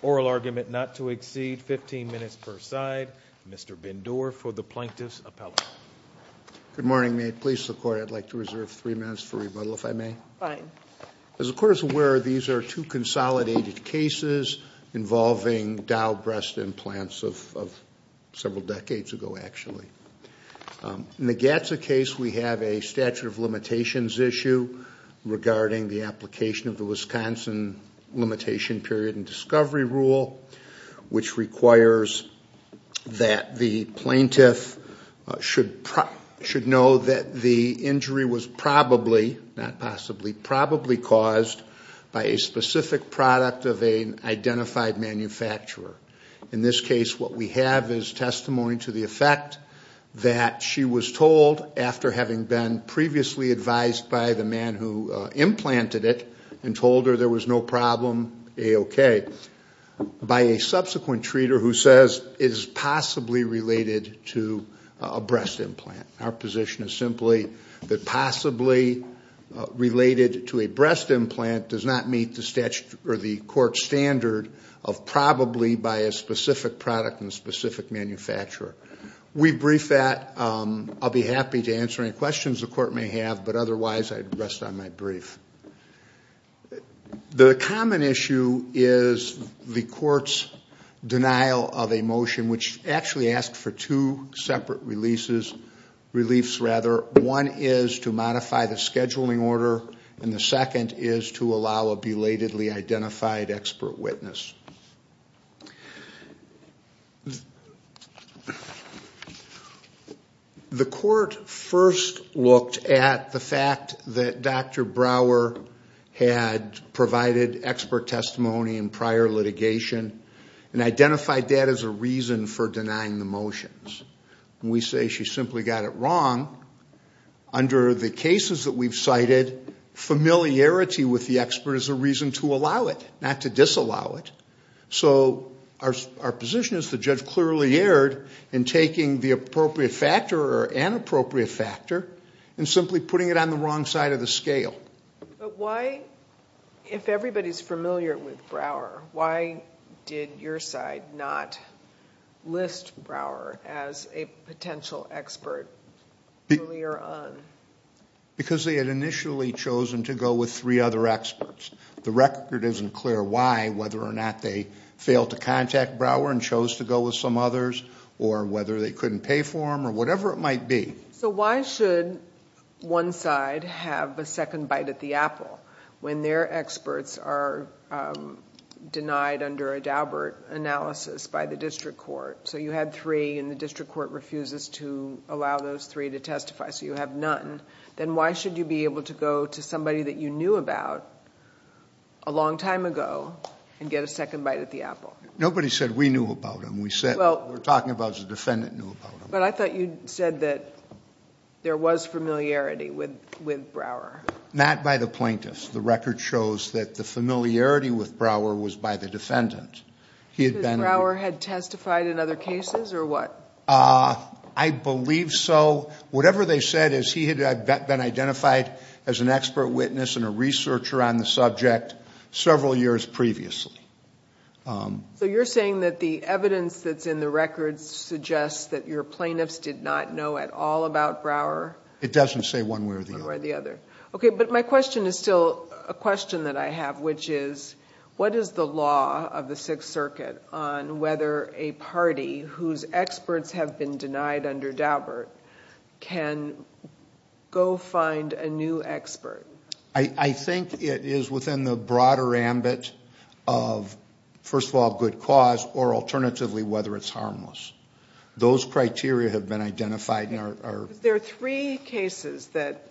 Oral argument not to exceed 15 minutes per side, Mr. Bendure for the Plaintiff's Appellate. Good morning. May it please the Court I'd like to reserve three minutes for rebuttal if I may. Fine. As the Court is aware these are two consolidated cases involving Dow breast implants of several decades ago actually. In the Gatza case we have a statute of limitations issue regarding the application of the Wisconsin Limitation Period and Discovery Rule which requires that the plaintiff should know that the injury was probably, not possibly, probably caused by a specific product of an identified manufacturer. In this case what we have is testimony to the effect that she was told after having been previously advised by the man who implanted it and told her there was no problem, A-OK, by a subsequent treater who says it is possibly related to a breast implant. Our position is simply that possibly related to a breast implant does not meet the court standard of probably by a specific product and a specific manufacturer. We brief that. I'll be happy to answer any questions the Court may have but otherwise I'd rest on my brief. The common issue is the Court's denial of a motion which actually asked for two separate releases, reliefs rather. One is to modify the scheduling order and the second is to allow a belatedly identified expert witness. The Court first looked at the fact that Dr. Brower had provided expert testimony in prior litigation and identified that as a reason for denying the motions. When we say she simply got it wrong, under the cases that we've cited familiarity with the expert is a reason to allow it, not to disallow it. So our position is the judge clearly erred in taking the appropriate factor or inappropriate factor and simply putting it on the wrong side of the scale. But why, if everybody's familiar with Brower, why did your side not list Brower as a potential expert earlier on? Because they had initially chosen to go with three other experts. The record isn't clear why, whether or not they failed to contact Brower and chose to go with some others or whether they couldn't pay for him or whatever it might be. So why should one side have a second bite at the apple when their experts are denied under a Daubert analysis by the district court? So you had three and the district court refuses to allow those three to testify, so you have none. Then why should you be able to go to somebody that you knew about a long time ago and get a second bite at the apple? Nobody said we knew about him. We're talking about the defendant knew about him. But I thought you said that there was familiarity with Brower. Not by the plaintiffs. The record shows that the familiarity with Brower was by the defendant. Because Brower had testified in other cases or what? I believe so. Whatever they said is he had been identified as an expert witness and a researcher on the subject several years previously. So you're saying that the evidence that's in the records suggests that your plaintiffs did not know at all about Brower? It doesn't say one way or the other. Okay, but my question is still a question that I have, which is what is the law of the Sixth Circuit on whether a party whose experts have been denied under Daubert can go find a new expert? I think it is within the broader ambit of, first of all, good cause, or alternatively, whether it's harmless. Those criteria have been identified. There are three cases that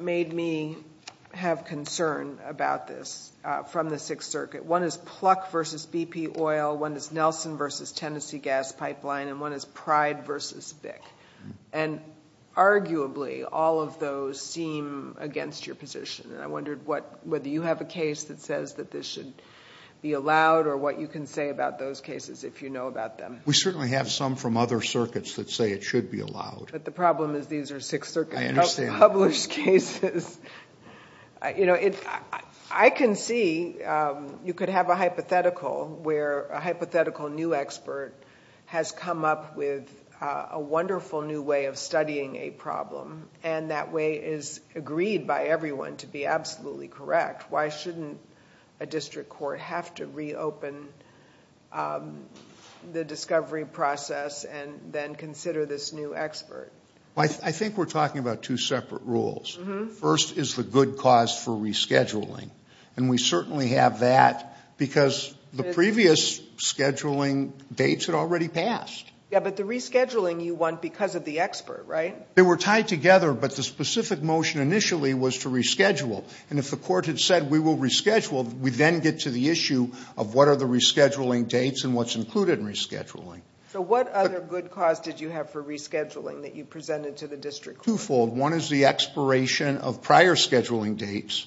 made me have concern about this from the Sixth Circuit. One is Pluck v. BP Oil. One is Nelson v. Tennessee Gas Pipeline. And one is Pride v. BIC. And arguably, all of those seem against your position. And I wondered whether you have a case that says that this should be allowed or what you can say about those cases if you know about them. We certainly have some from other circuits that say it should be allowed. But the problem is these are Sixth Circuit published cases. I can see you could have a hypothetical where a hypothetical new expert has come up with a wonderful new way of studying a problem. And that way is agreed by everyone to be absolutely correct. Why shouldn't a district court have to reopen the discovery process and then consider this new expert? I think we're talking about two separate rules. First is the good cause for rescheduling. And we certainly have that because the previous scheduling dates had already passed. Yeah, but the rescheduling you want because of the expert, right? They were tied together, but the specific motion initially was to reschedule. And if the court had said we will reschedule, we then get to the issue of what are the rescheduling dates and what's included in rescheduling. So what other good cause did you have for rescheduling that you presented to the district court? Twofold. One is the expiration of prior scheduling dates.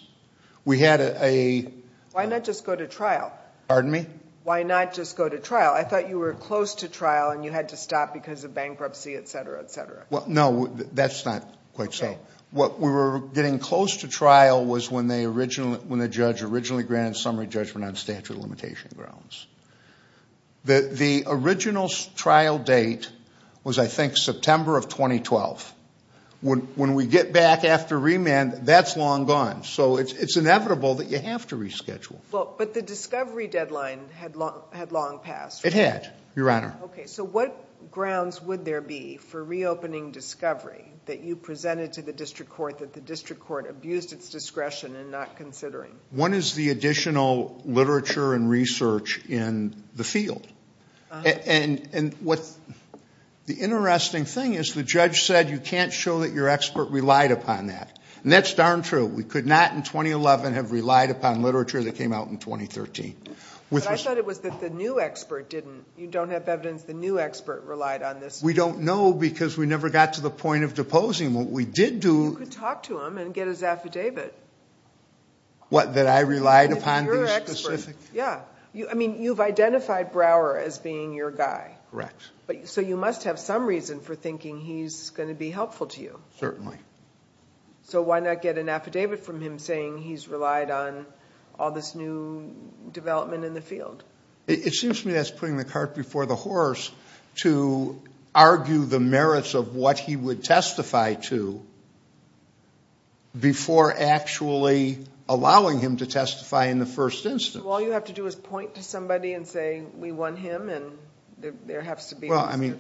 We had a... Why not just go to trial? Pardon me? Why not just go to trial? I thought you were close to trial and you had to stop because of bankruptcy, et cetera, et cetera. Well, no, that's not quite so. What we were getting close to trial was when the judge originally granted summary judgment on statute of limitation grounds. The original trial date was, I think, September of 2012. When we get back after remand, that's long gone. So it's inevitable that you have to reschedule. But the discovery deadline had long passed. It had, Your Honor. Okay. So what grounds would there be for reopening discovery that you presented to the district court that the district court abused its discretion in not considering? One is the additional literature and research in the field. And what's the interesting thing is the judge said you can't show that your expert relied upon that. And that's darn true. We could not in 2011 have relied upon literature that came out in 2013. But I thought it was that the new expert didn't. You don't have evidence the new expert relied on this. We don't know because we never got to the point of deposing. What we did do... You could talk to him and get his affidavit. What, that I relied upon these specific... Your expert. Yeah. I mean, you've identified Brower as being your guy. Correct. So you must have some reason for thinking he's going to be helpful to you. Certainly. So why not get an affidavit from him saying he's relied on all this new development in the field? It seems to me that's putting the cart before the horse to argue the merits of what he would testify to before actually allowing him to testify in the first instance. So all you have to do is point to somebody and say we want him and there has to be... Well, I mean,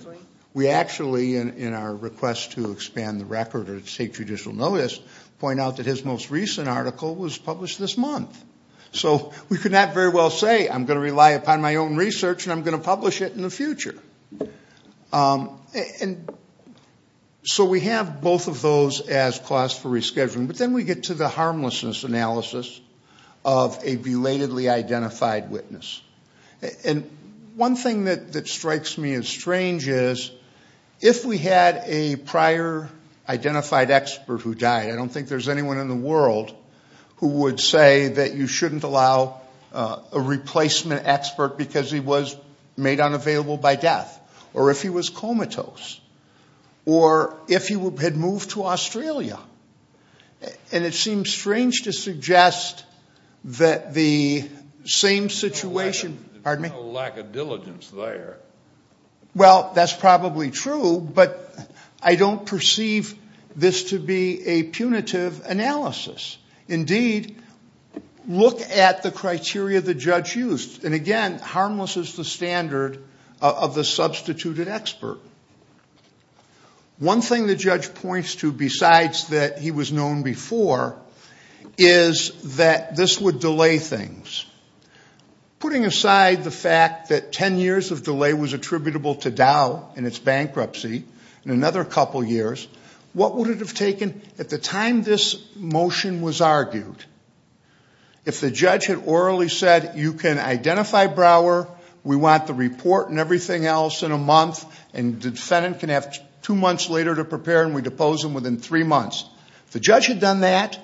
we actually, in our request to expand the record or to take judicial notice, point out that his most recent article was published this month. So we could not very well say I'm going to rely upon my own research and I'm going to publish it in the future. And so we have both of those as cause for rescheduling. But then we get to the harmlessness analysis of a belatedly identified witness. And one thing that strikes me as strange is if we had a prior identified expert who died, I don't think there's anyone in the world who would say that you shouldn't allow a replacement expert because he was made unavailable by death, or if he was comatose, or if he had moved to Australia. And it seems strange to suggest that the same situation... There's no lack of diligence there. Well, that's probably true, but I don't perceive this to be a punitive analysis. Indeed, look at the criteria the judge used. And again, harmless is the standard of the substituted expert. One thing the judge points to besides that he was known before is that this would delay things. Putting aside the fact that 10 years of delay was attributable to Dow and its bankruptcy, in another couple years, what would it have taken at the time this motion was argued? If the judge had orally said, you can identify Brower, we want the report and everything else in a month, and the defendant can have two months later to prepare and we depose him within three months. If the judge had done that,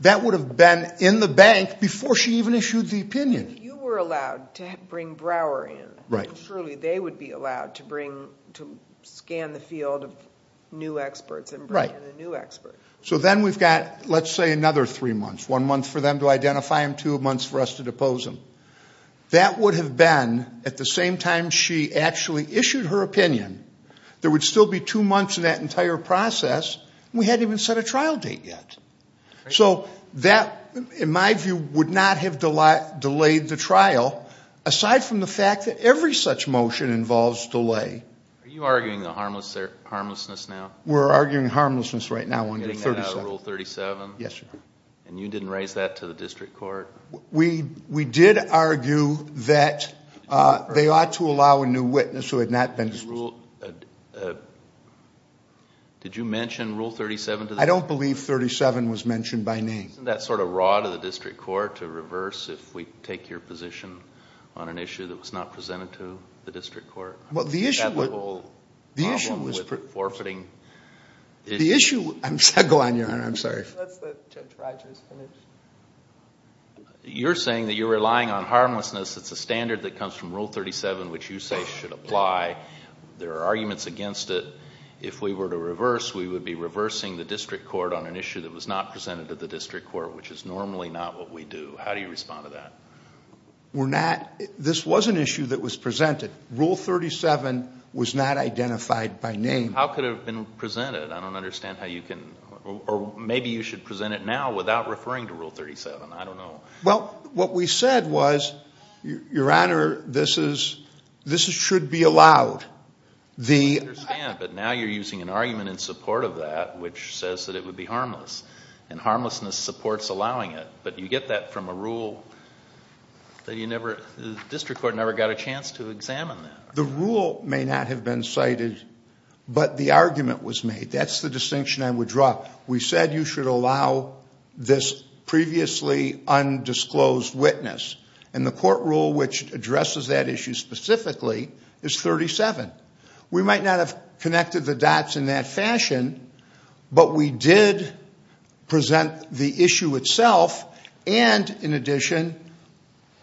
that would have been in the bank before she even issued the opinion. If you were allowed to bring Brower in, surely they would be allowed to scan the field of new experts and bring in a new expert. So then we've got, let's say, another three months. One month for them to identify him, two months for us to depose him. That would have been, at the same time she actually issued her opinion, there would still be two months in that entire process, and we hadn't even set a trial date yet. So that, in my view, would not have delayed the trial, aside from the fact that every such motion involves delay. Are you arguing the harmlessness now? We're arguing harmlessness right now under Rule 37. Getting that out of Rule 37? Yes, sir. And you didn't raise that to the district court? We did argue that they ought to allow a new witness who had not been disposed. Did you mention Rule 37 to the district court? I don't believe 37 was mentioned by name. Isn't that sort of raw to the district court to reverse if we take your position on an issue that was not presented to the district court? Well, the issue was... That whole problem with forfeiting... The issue... Go on, Your Honor, I'm sorry. Let's let Judge Rogers finish. You're saying that you're relying on harmlessness. It's a standard that comes from Rule 37, which you say should apply. There are arguments against it. If we were to reverse, we would be reversing the district court on an issue that was not presented to the district court, which is normally not what we do. How do you respond to that? We're not... This was an issue that was presented. Rule 37 was not identified by name. How could it have been presented? I don't understand how you can... Or maybe you should present it now without referring to Rule 37. I don't know. Well, what we said was, Your Honor, this is... This should be allowed. I understand, but now you're using an argument in support of that which says that it would be harmless. And harmlessness supports allowing it. But you get that from a rule that you never... The district court never got a chance to examine that. The rule may not have been cited, but the argument was made. That's the distinction I would draw. We said you should allow this previously undisclosed witness. And the court rule which addresses that issue specifically is 37. We might not have connected the dots in that fashion, but we did present the issue itself. And, in addition,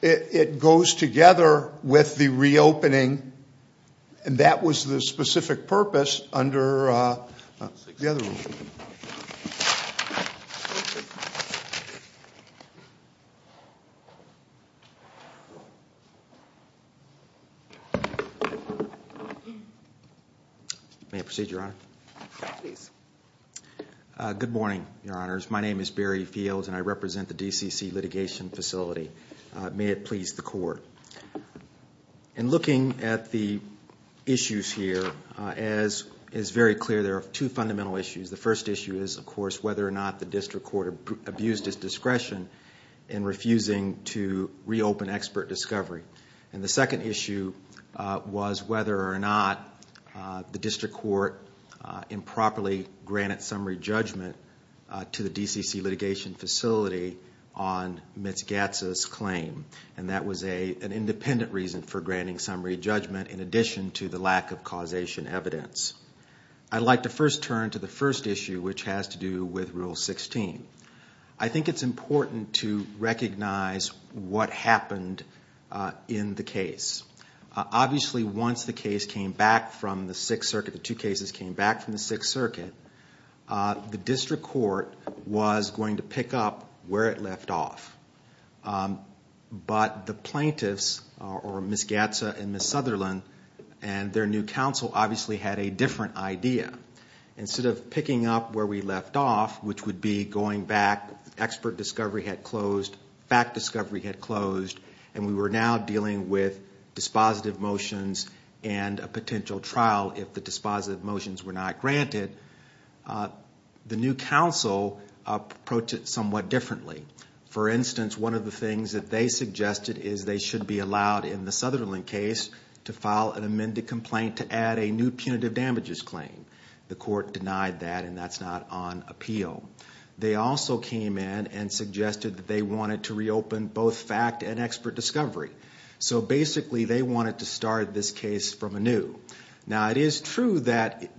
it goes together with the reopening. And that was the specific purpose under the other rule. May I proceed, Your Honor? Please. Good morning, Your Honors. My name is Barry Fields, and I represent the DCC Litigation Facility. May it please the court. In looking at the issues here, as is very clear, there are two fundamental issues. The first issue is, of course, whether or not the district court abused its discretion in refusing to reopen expert discovery. And the second issue was whether or not the district court improperly granted summary judgment to the DCC Litigation Facility on Mitzgatza's claim. And that was an independent reason for granting summary judgment in addition to the lack of causation evidence. I'd like to first turn to the first issue, which has to do with Rule 16. I think it's important to recognize what happened in the case. Obviously, once the case came back from the Sixth Circuit, the two cases came back from the Sixth Circuit, the district court was going to pick up where it left off. But the plaintiffs, or Mitzgatza and Ms. Sutherland, and their new counsel obviously had a different idea. Instead of picking up where we left off, which would be going back, expert discovery had closed, fact discovery had closed, and we were now dealing with dispositive motions and a potential trial if the dispositive motions were not granted, the new counsel approached it somewhat differently. For instance, one of the things that they suggested is they should be allowed in the Sutherland case to file an amended complaint to add a new punitive damages claim. The court denied that, and that's not on appeal. They also came in and suggested that they wanted to reopen both fact and expert discovery. So basically, they wanted to start this case from anew. Now, it is true that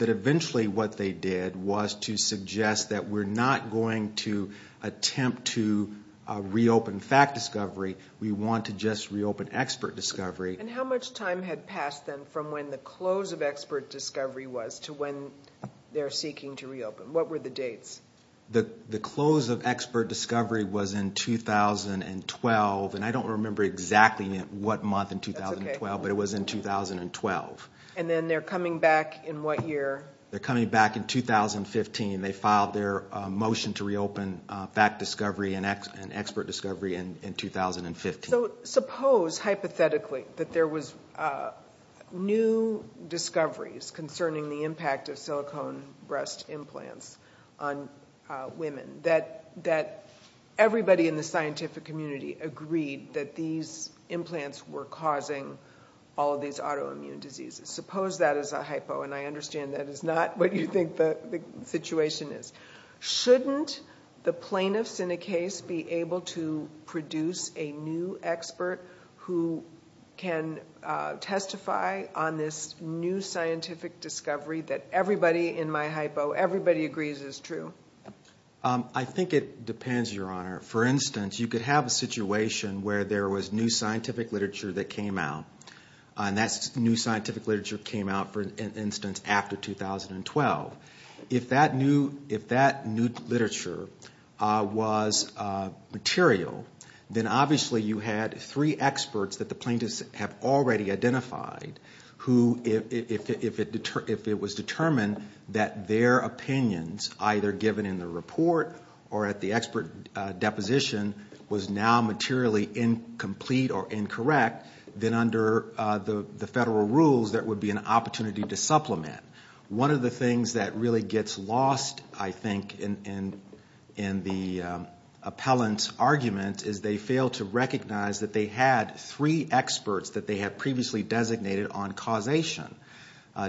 eventually what they did was to suggest that we're not going to attempt to reopen fact discovery. We want to just reopen expert discovery. And how much time had passed then from when the close of expert discovery was to when they're seeking to reopen? What were the dates? The close of expert discovery was in 2012, and I don't remember exactly what month in 2012, but it was in 2012. And then they're coming back in what year? They're coming back in 2015. They filed their motion to reopen fact discovery and expert discovery in 2015. So suppose, hypothetically, that there was new discoveries concerning the impact of silicone breast implants on women, that everybody in the scientific community agreed that these implants were causing all of these autoimmune diseases. Suppose that is a hypo, and I understand that is not what you think the situation is. Shouldn't the plaintiffs in a case be able to produce a new expert who can testify on this new scientific discovery that everybody in my hypo, everybody agrees is true? I think it depends, Your Honor. For instance, you could have a situation where there was new scientific literature that came out, and that new scientific literature came out, for instance, after 2012. If that new literature was material, then obviously you had three experts that the plaintiffs have already identified who, if it was determined that their opinions, either given in the report or at the expert deposition, was now materially incomplete or incorrect, then under the federal rules there would be an opportunity to supplement. One of the things that really gets lost, I think, in the appellant's argument is they fail to recognize that they had three experts that they had previously designated on causation,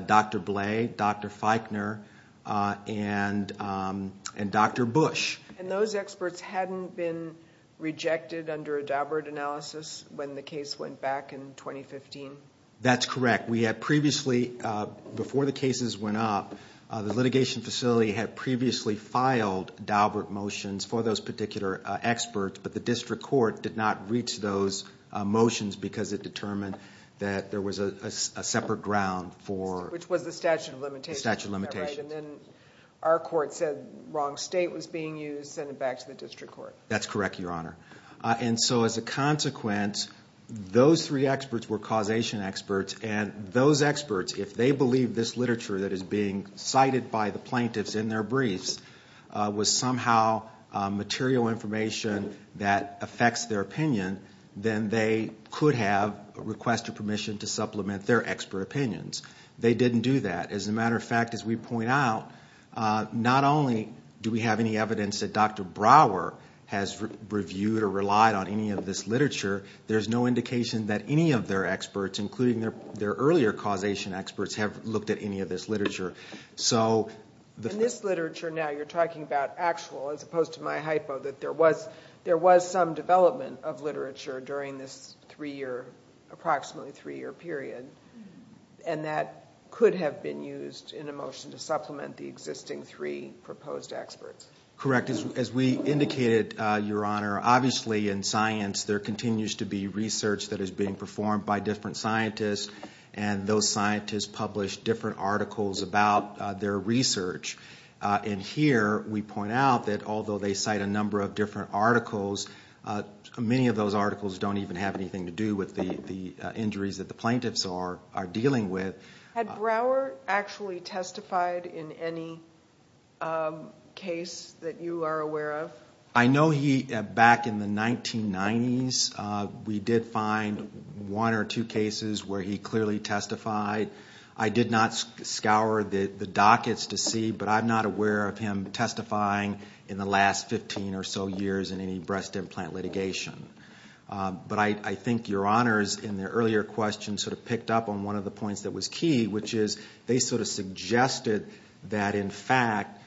Dr. Blay, Dr. Feichner, and Dr. Bush. And those experts hadn't been rejected under a Daubert analysis when the case went back in 2015? That's correct. We had previously, before the cases went up, the litigation facility had previously filed Daubert motions for those particular experts, but the district court did not reach those motions because it determined that there was a separate ground for... Which was the statute of limitations. The statute of limitations. Right, and then our court said wrong state was being used, sent it back to the district court. That's correct, Your Honor. And so as a consequence, those three experts were causation experts, and those experts, if they believe this literature that is being cited by the plaintiffs in their briefs was somehow material information that affects their opinion, then they could have requested permission to supplement their expert opinions. They didn't do that. As a matter of fact, as we point out, not only do we have any evidence that Dr. Brower has reviewed or relied on any of this literature, there's no indication that any of their experts, including their earlier causation experts, have looked at any of this literature. In this literature now, you're talking about actual, as opposed to my hypo, that there was some development of literature during this approximately three-year period, and that could have been used in a motion to supplement the existing three proposed experts. Correct. As we indicated, Your Honor, obviously in science there continues to be research that is being performed by different scientists, and those scientists publish different articles about their research. And here we point out that although they cite a number of different articles, many of those articles don't even have anything to do with the injuries that the plaintiffs are dealing with. Had Brower actually testified in any case that you are aware of? I know he, back in the 1990s, we did find one or two cases where he clearly testified. I did not scour the dockets to see, but I'm not aware of him testifying in the last 15 or so years in any breast implant litigation. But I think Your Honors, in the earlier question, sort of picked up on one of the points that was key, which is they sort of suggested that, in fact,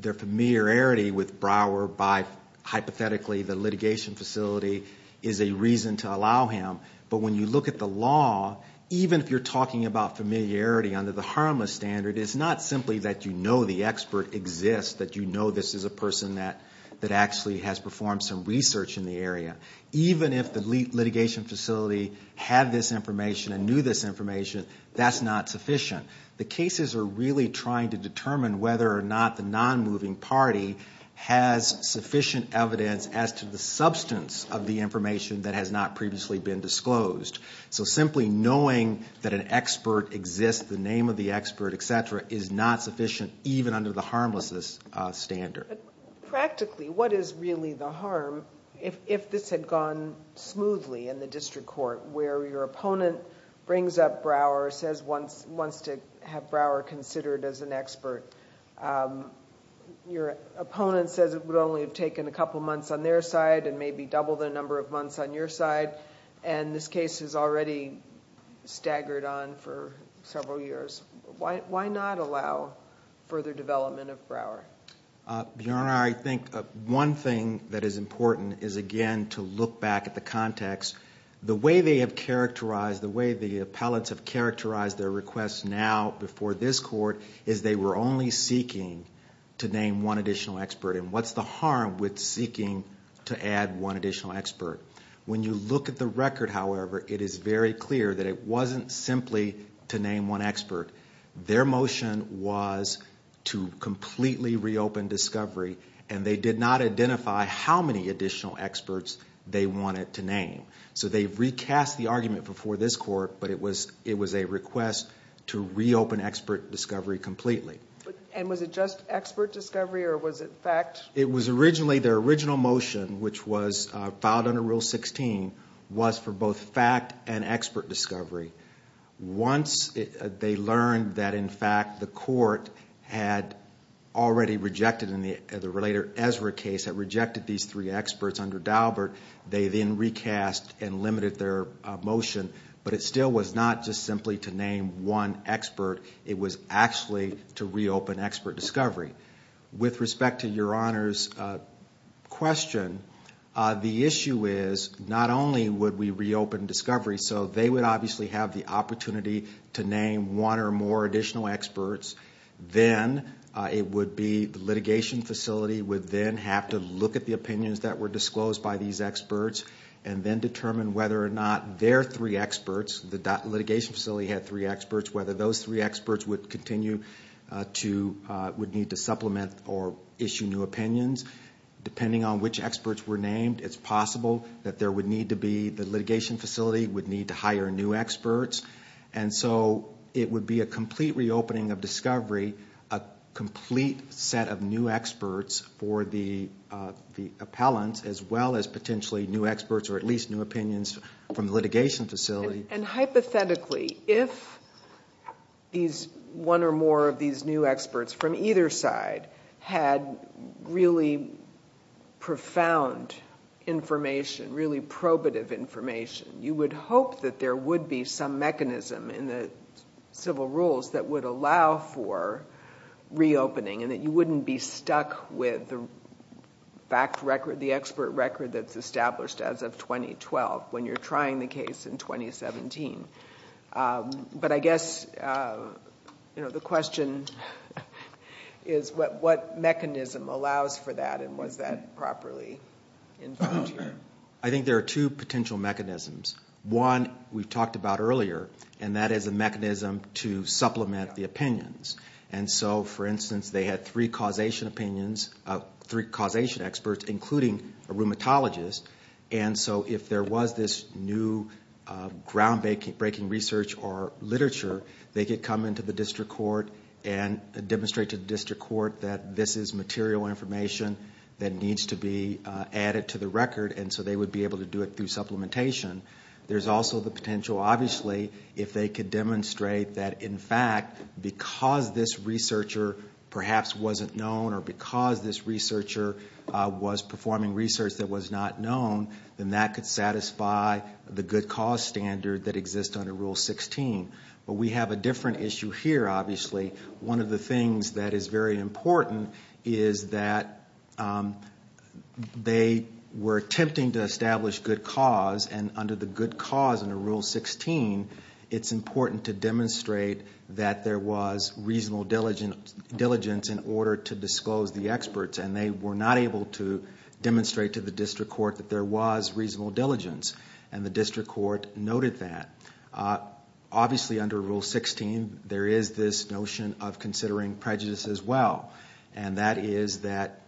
their familiarity with Brower by, hypothetically, the litigation facility, is a reason to allow him. But when you look at the law, even if you're talking about familiarity under the harmless standard, it's not simply that you know the expert exists, that you know this is a person that actually has performed some research in the area. Even if the litigation facility had this information and knew this information, that's not sufficient. The cases are really trying to determine whether or not the non-moving party has sufficient evidence as to the substance of the information that has not previously been disclosed. So simply knowing that an expert exists, the name of the expert, et cetera, is not sufficient even under the harmlessness standard. But practically, what is really the harm if this had gone smoothly in the district court, where your opponent brings up Brower, says he wants to have Brower considered as an expert. Your opponent says it would only have taken a couple months on their side and maybe double the number of months on your side, and this case has already staggered on for several years. Why not allow further development of Brower? Your Honor, I think one thing that is important is again to look back at the context. The way they have characterized, the way the appellates have characterized their requests now before this court is they were only seeking to name one additional expert. And what's the harm with seeking to add one additional expert? When you look at the record, however, it is very clear that it wasn't simply to name one expert. Their motion was to completely reopen discovery, and they did not identify how many additional experts they wanted to name. So they've recast the argument before this court, but it was a request to reopen expert discovery completely. And was it just expert discovery or was it fact? It was originally their original motion, which was filed under Rule 16, was for both fact and expert discovery. Once they learned that, in fact, the court had already rejected in the later Ezra case, had rejected these three experts under Daubert, they then recast and limited their motion. But it still was not just simply to name one expert. It was actually to reopen expert discovery. With respect to Your Honor's question, the issue is not only would we reopen discovery, so they would obviously have the opportunity to name one or more additional experts. Then it would be the litigation facility would then have to look at the opinions that were disclosed by these experts and then determine whether or not their three experts, the litigation facility had three experts, whether those three experts would continue to, would need to supplement or issue new opinions. Depending on which experts were named, it's possible that there would need to be, the litigation facility would need to hire new experts. And so it would be a complete reopening of discovery, a complete set of new experts for the appellants, as well as potentially new experts or at least new opinions from the litigation facility. And hypothetically, if one or more of these new experts from either side had really profound information, really probative information, you would hope that there would be some mechanism in the civil rules that would allow for reopening and that you wouldn't be stuck with the fact record, the expert record that's established as of 2012 when you're trying the case in 2017. But I guess the question is what mechanism allows for that and was that properly informed? I think there are two potential mechanisms. One we talked about earlier, and that is a mechanism to supplement the opinions. And so, for instance, they had three causation opinions, three causation experts, including a rheumatologist. And so if there was this new groundbreaking research or literature, they could come into the district court and demonstrate to the district court that this is material information that needs to be added to the record, and so they would be able to do it through supplementation. There's also the potential, obviously, if they could demonstrate that, in fact, because this researcher perhaps wasn't known or because this researcher was performing research that was not known, then that could satisfy the good cause standard that exists under Rule 16. But we have a different issue here, obviously. One of the things that is very important is that they were attempting to establish good cause, and under the good cause under Rule 16, it's important to demonstrate that there was reasonable diligence in order to disclose the experts, and they were not able to demonstrate to the district court that there was reasonable diligence, and the district court noted that. Obviously, under Rule 16, there is this notion of considering prejudice as well, and that is that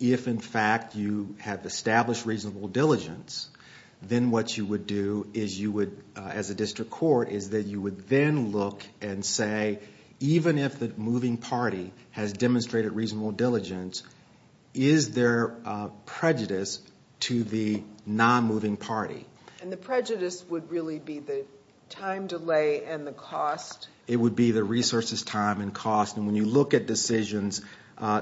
if, in fact, you have established reasonable diligence, then what you would do as a district court is that you would then look and say, even if the moving party has demonstrated reasonable diligence, is there prejudice to the non-moving party? And the prejudice would really be the time delay and the cost? It would be the resources, time, and cost, and when you look at decisions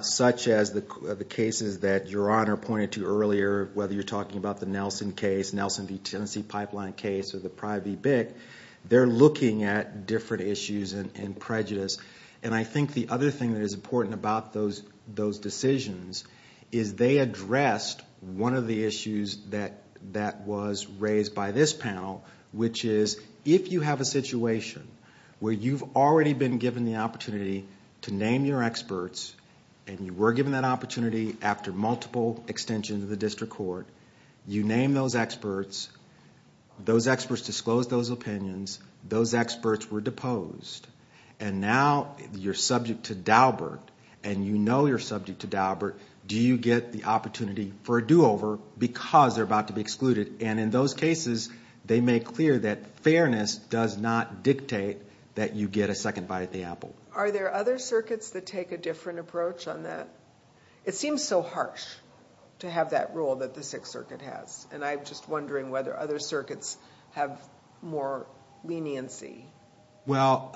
such as the cases that Your Honor pointed to earlier, whether you're talking about the Nelson case, they're looking at different issues and prejudice, and I think the other thing that is important about those decisions is they addressed one of the issues that was raised by this panel, which is if you have a situation where you've already been given the opportunity to name your experts, and you were given that opportunity after multiple extensions of the district court, you name those experts, those experts disclose those opinions, those experts were deposed, and now you're subject to Daubert, and you know you're subject to Daubert, do you get the opportunity for a do-over because they're about to be excluded? And in those cases, they make clear that fairness does not dictate that you get a second bite at the apple. Are there other circuits that take a different approach on that? It seems so harsh to have that rule that the Sixth Circuit has, and I'm just wondering whether other circuits have more leniency. Well,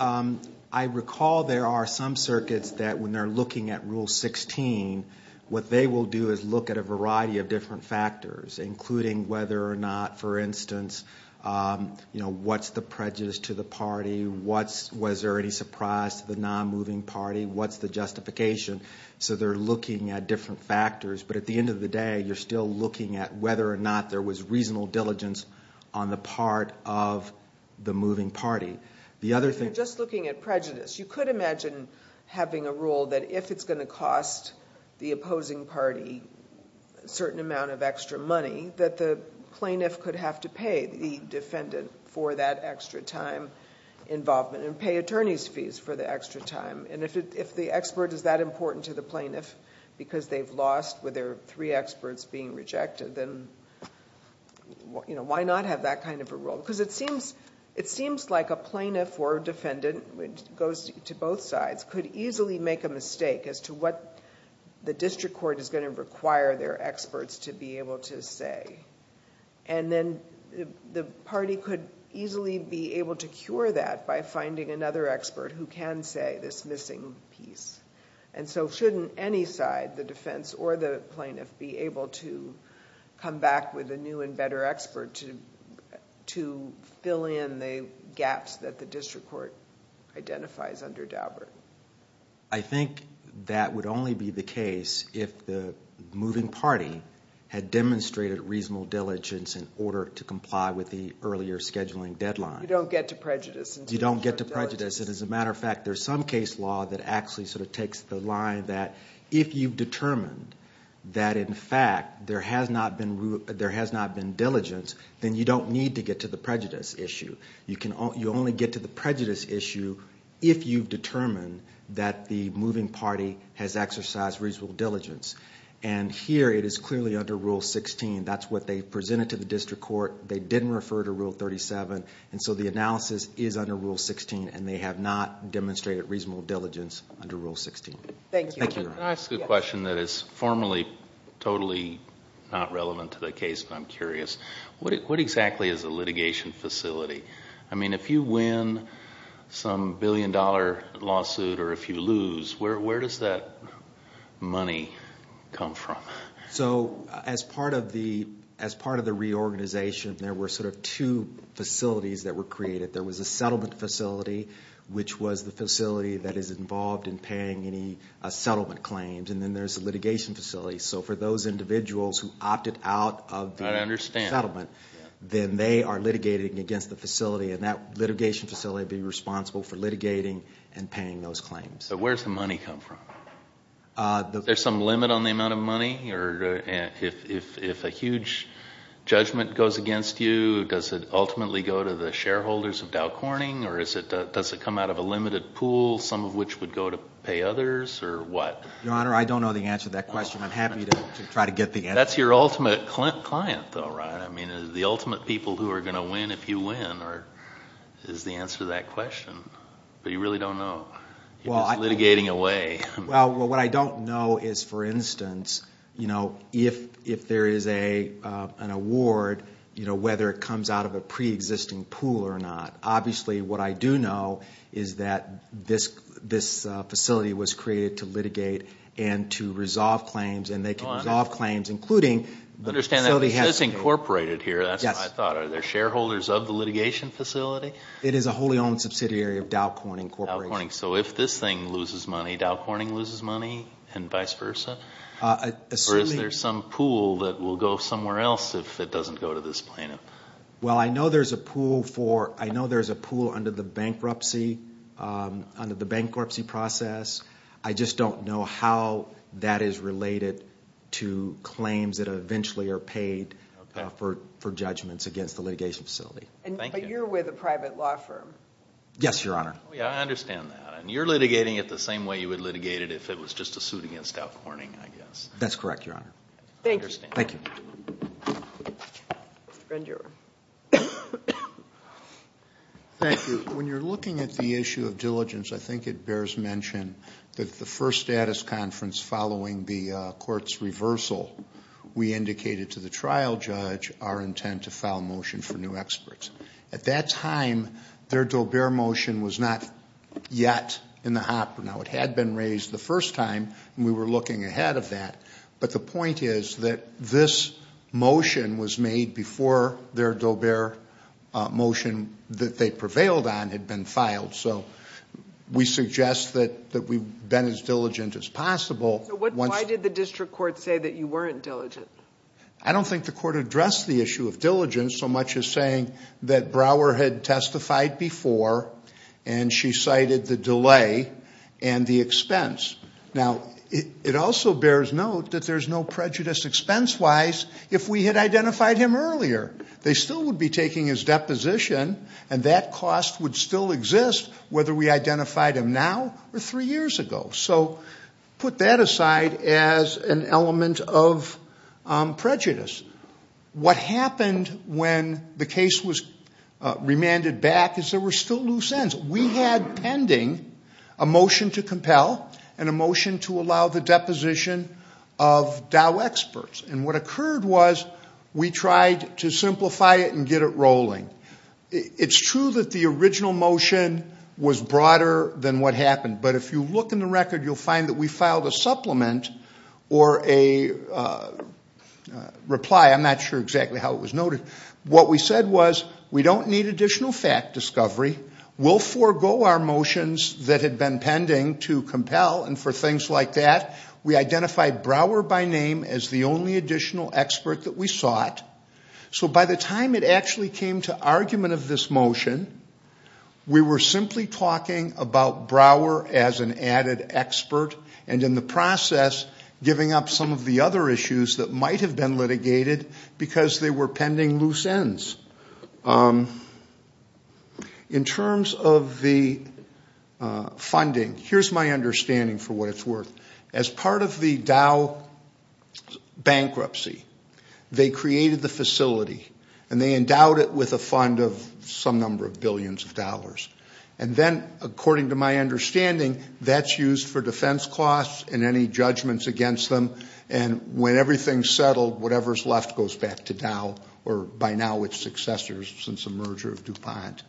I recall there are some circuits that when they're looking at Rule 16, what they will do is look at a variety of different factors, including whether or not, for instance, what's the prejudice to the party, was there any surprise to the non-moving party, what's the justification? So they're looking at different factors, but at the end of the day, you're still looking at whether or not there was reasonable diligence on the part of the moving party. If you're just looking at prejudice, you could imagine having a rule that if it's going to cost the opposing party a certain amount of extra money, that the plaintiff could have to pay the defendant for that extra time involvement and pay attorney's fees for the extra time. And if the expert is that important to the plaintiff because they've lost with their three experts being rejected, then why not have that kind of a rule? Because it seems like a plaintiff or a defendant, which goes to both sides, could easily make a mistake as to what the district court is going to require their experts to be able to say. And then the party could easily be able to cure that by finding another expert who can say this missing piece. And so shouldn't any side, the defense or the plaintiff, be able to come back with a new and better expert to fill in the gaps that the district court identifies under Daubert? I think that would only be the case if the moving party had demonstrated reasonable diligence in order to comply with the earlier scheduling deadline. You don't get to prejudice. You don't get to prejudice. And as a matter of fact, there's some case law that actually sort of takes the line that if you've determined that, in fact, there has not been diligence, then you don't need to get to the prejudice issue. You only get to the prejudice issue if you've determined that the moving party has exercised reasonable diligence. And here it is clearly under Rule 16. That's what they presented to the district court. They didn't refer to Rule 37. And so the analysis is under Rule 16, and they have not demonstrated reasonable diligence under Rule 16. Thank you. Can I ask a question that is formally totally not relevant to the case, but I'm curious? What exactly is a litigation facility? I mean, if you win some billion-dollar lawsuit or if you lose, where does that money come from? So as part of the reorganization, there were sort of two facilities that were created. There was a settlement facility, which was the facility that is involved in paying any settlement claims, and then there's a litigation facility. So for those individuals who opted out of the settlement, then they are litigating against the facility, and that litigation facility would be responsible for litigating and paying those claims. But where does the money come from? Is there some limit on the amount of money? If a huge judgment goes against you, does it ultimately go to the shareholders of Dow Corning, or does it come out of a limited pool, some of which would go to pay others, or what? Your Honor, I don't know the answer to that question. I'm happy to try to get the answer. That's your ultimate client, though, right? I mean, the ultimate people who are going to win if you win is the answer to that question. But you really don't know. You're just litigating away. Well, what I don't know is, for instance, if there is an award, whether it comes out of a preexisting pool or not. Obviously, what I do know is that this facility was created to litigate and to resolve claims, and they can resolve claims, including... Understand that it says incorporated here. That's what I thought. Are there shareholders of the litigation facility? It is a wholly owned subsidiary of Dow Corning Corporation. So if this thing loses money, Dow Corning loses money and vice versa? Or is there some pool that will go somewhere else if it doesn't go to this plaintiff? Well, I know there's a pool for... I know there's a pool under the bankruptcy process. I just don't know how that is related to claims that eventually are paid for judgments against the litigation facility. But you're with a private law firm. Yes, Your Honor. Oh, yeah, I understand that. And you're litigating it the same way you would litigate it if it was just a suit against Dow Corning, I guess. That's correct, Your Honor. Thank you. Thank you. Mr. Grandjuror. Thank you. When you're looking at the issue of diligence, I think it bears mention that the first status conference following the court's reversal, we indicated to the trial judge our intent to file a motion for new experts. At that time, their Daubert motion was not yet in the hopper. Now, it had been raised the first time, and we were looking ahead of that. But the point is that this motion was made before their Daubert motion that they prevailed on had been filed. So we suggest that we've been as diligent as possible. Why did the district court say that you weren't diligent? I don't think the court addressed the issue of diligence so much as saying that Brower had testified before, and she cited the delay and the expense. Now, it also bears note that there's no prejudice expense-wise if we had identified him earlier. They still would be taking his deposition, and that cost would still exist whether we identified him now or three years ago. So put that aside as an element of prejudice. What happened when the case was remanded back is there were still loose ends. We had pending a motion to compel and a motion to allow the deposition of Dau experts. And what occurred was we tried to simplify it and get it rolling. It's true that the original motion was broader than what happened, but if you look in the record, you'll find that we filed a supplement or a reply. I'm not sure exactly how it was noted. What we said was we don't need additional fact discovery. We'll forego our motions that had been pending to compel, and for things like that we identified Brower by name as the only additional expert that we sought. So by the time it actually came to argument of this motion, we were simply talking about Brower as an added expert and in the process giving up some of the other issues that might have been litigated because they were pending loose ends. In terms of the funding, here's my understanding for what it's worth. As part of the Dau bankruptcy, they created the facility and they endowed it with a fund of some number of billions of dollars. And then, according to my understanding, that's used for defense costs and any judgments against them, and when everything's settled, whatever's left goes back to Dau, or by now its successors since the merger of DuPont.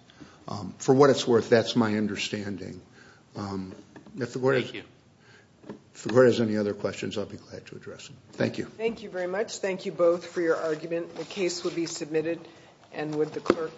For what it's worth, that's my understanding. Thank you. If the Court has any other questions, I'll be glad to address them. Thank you. Thank you very much. Thank you both for your argument. The case will be submitted, and with the clerk.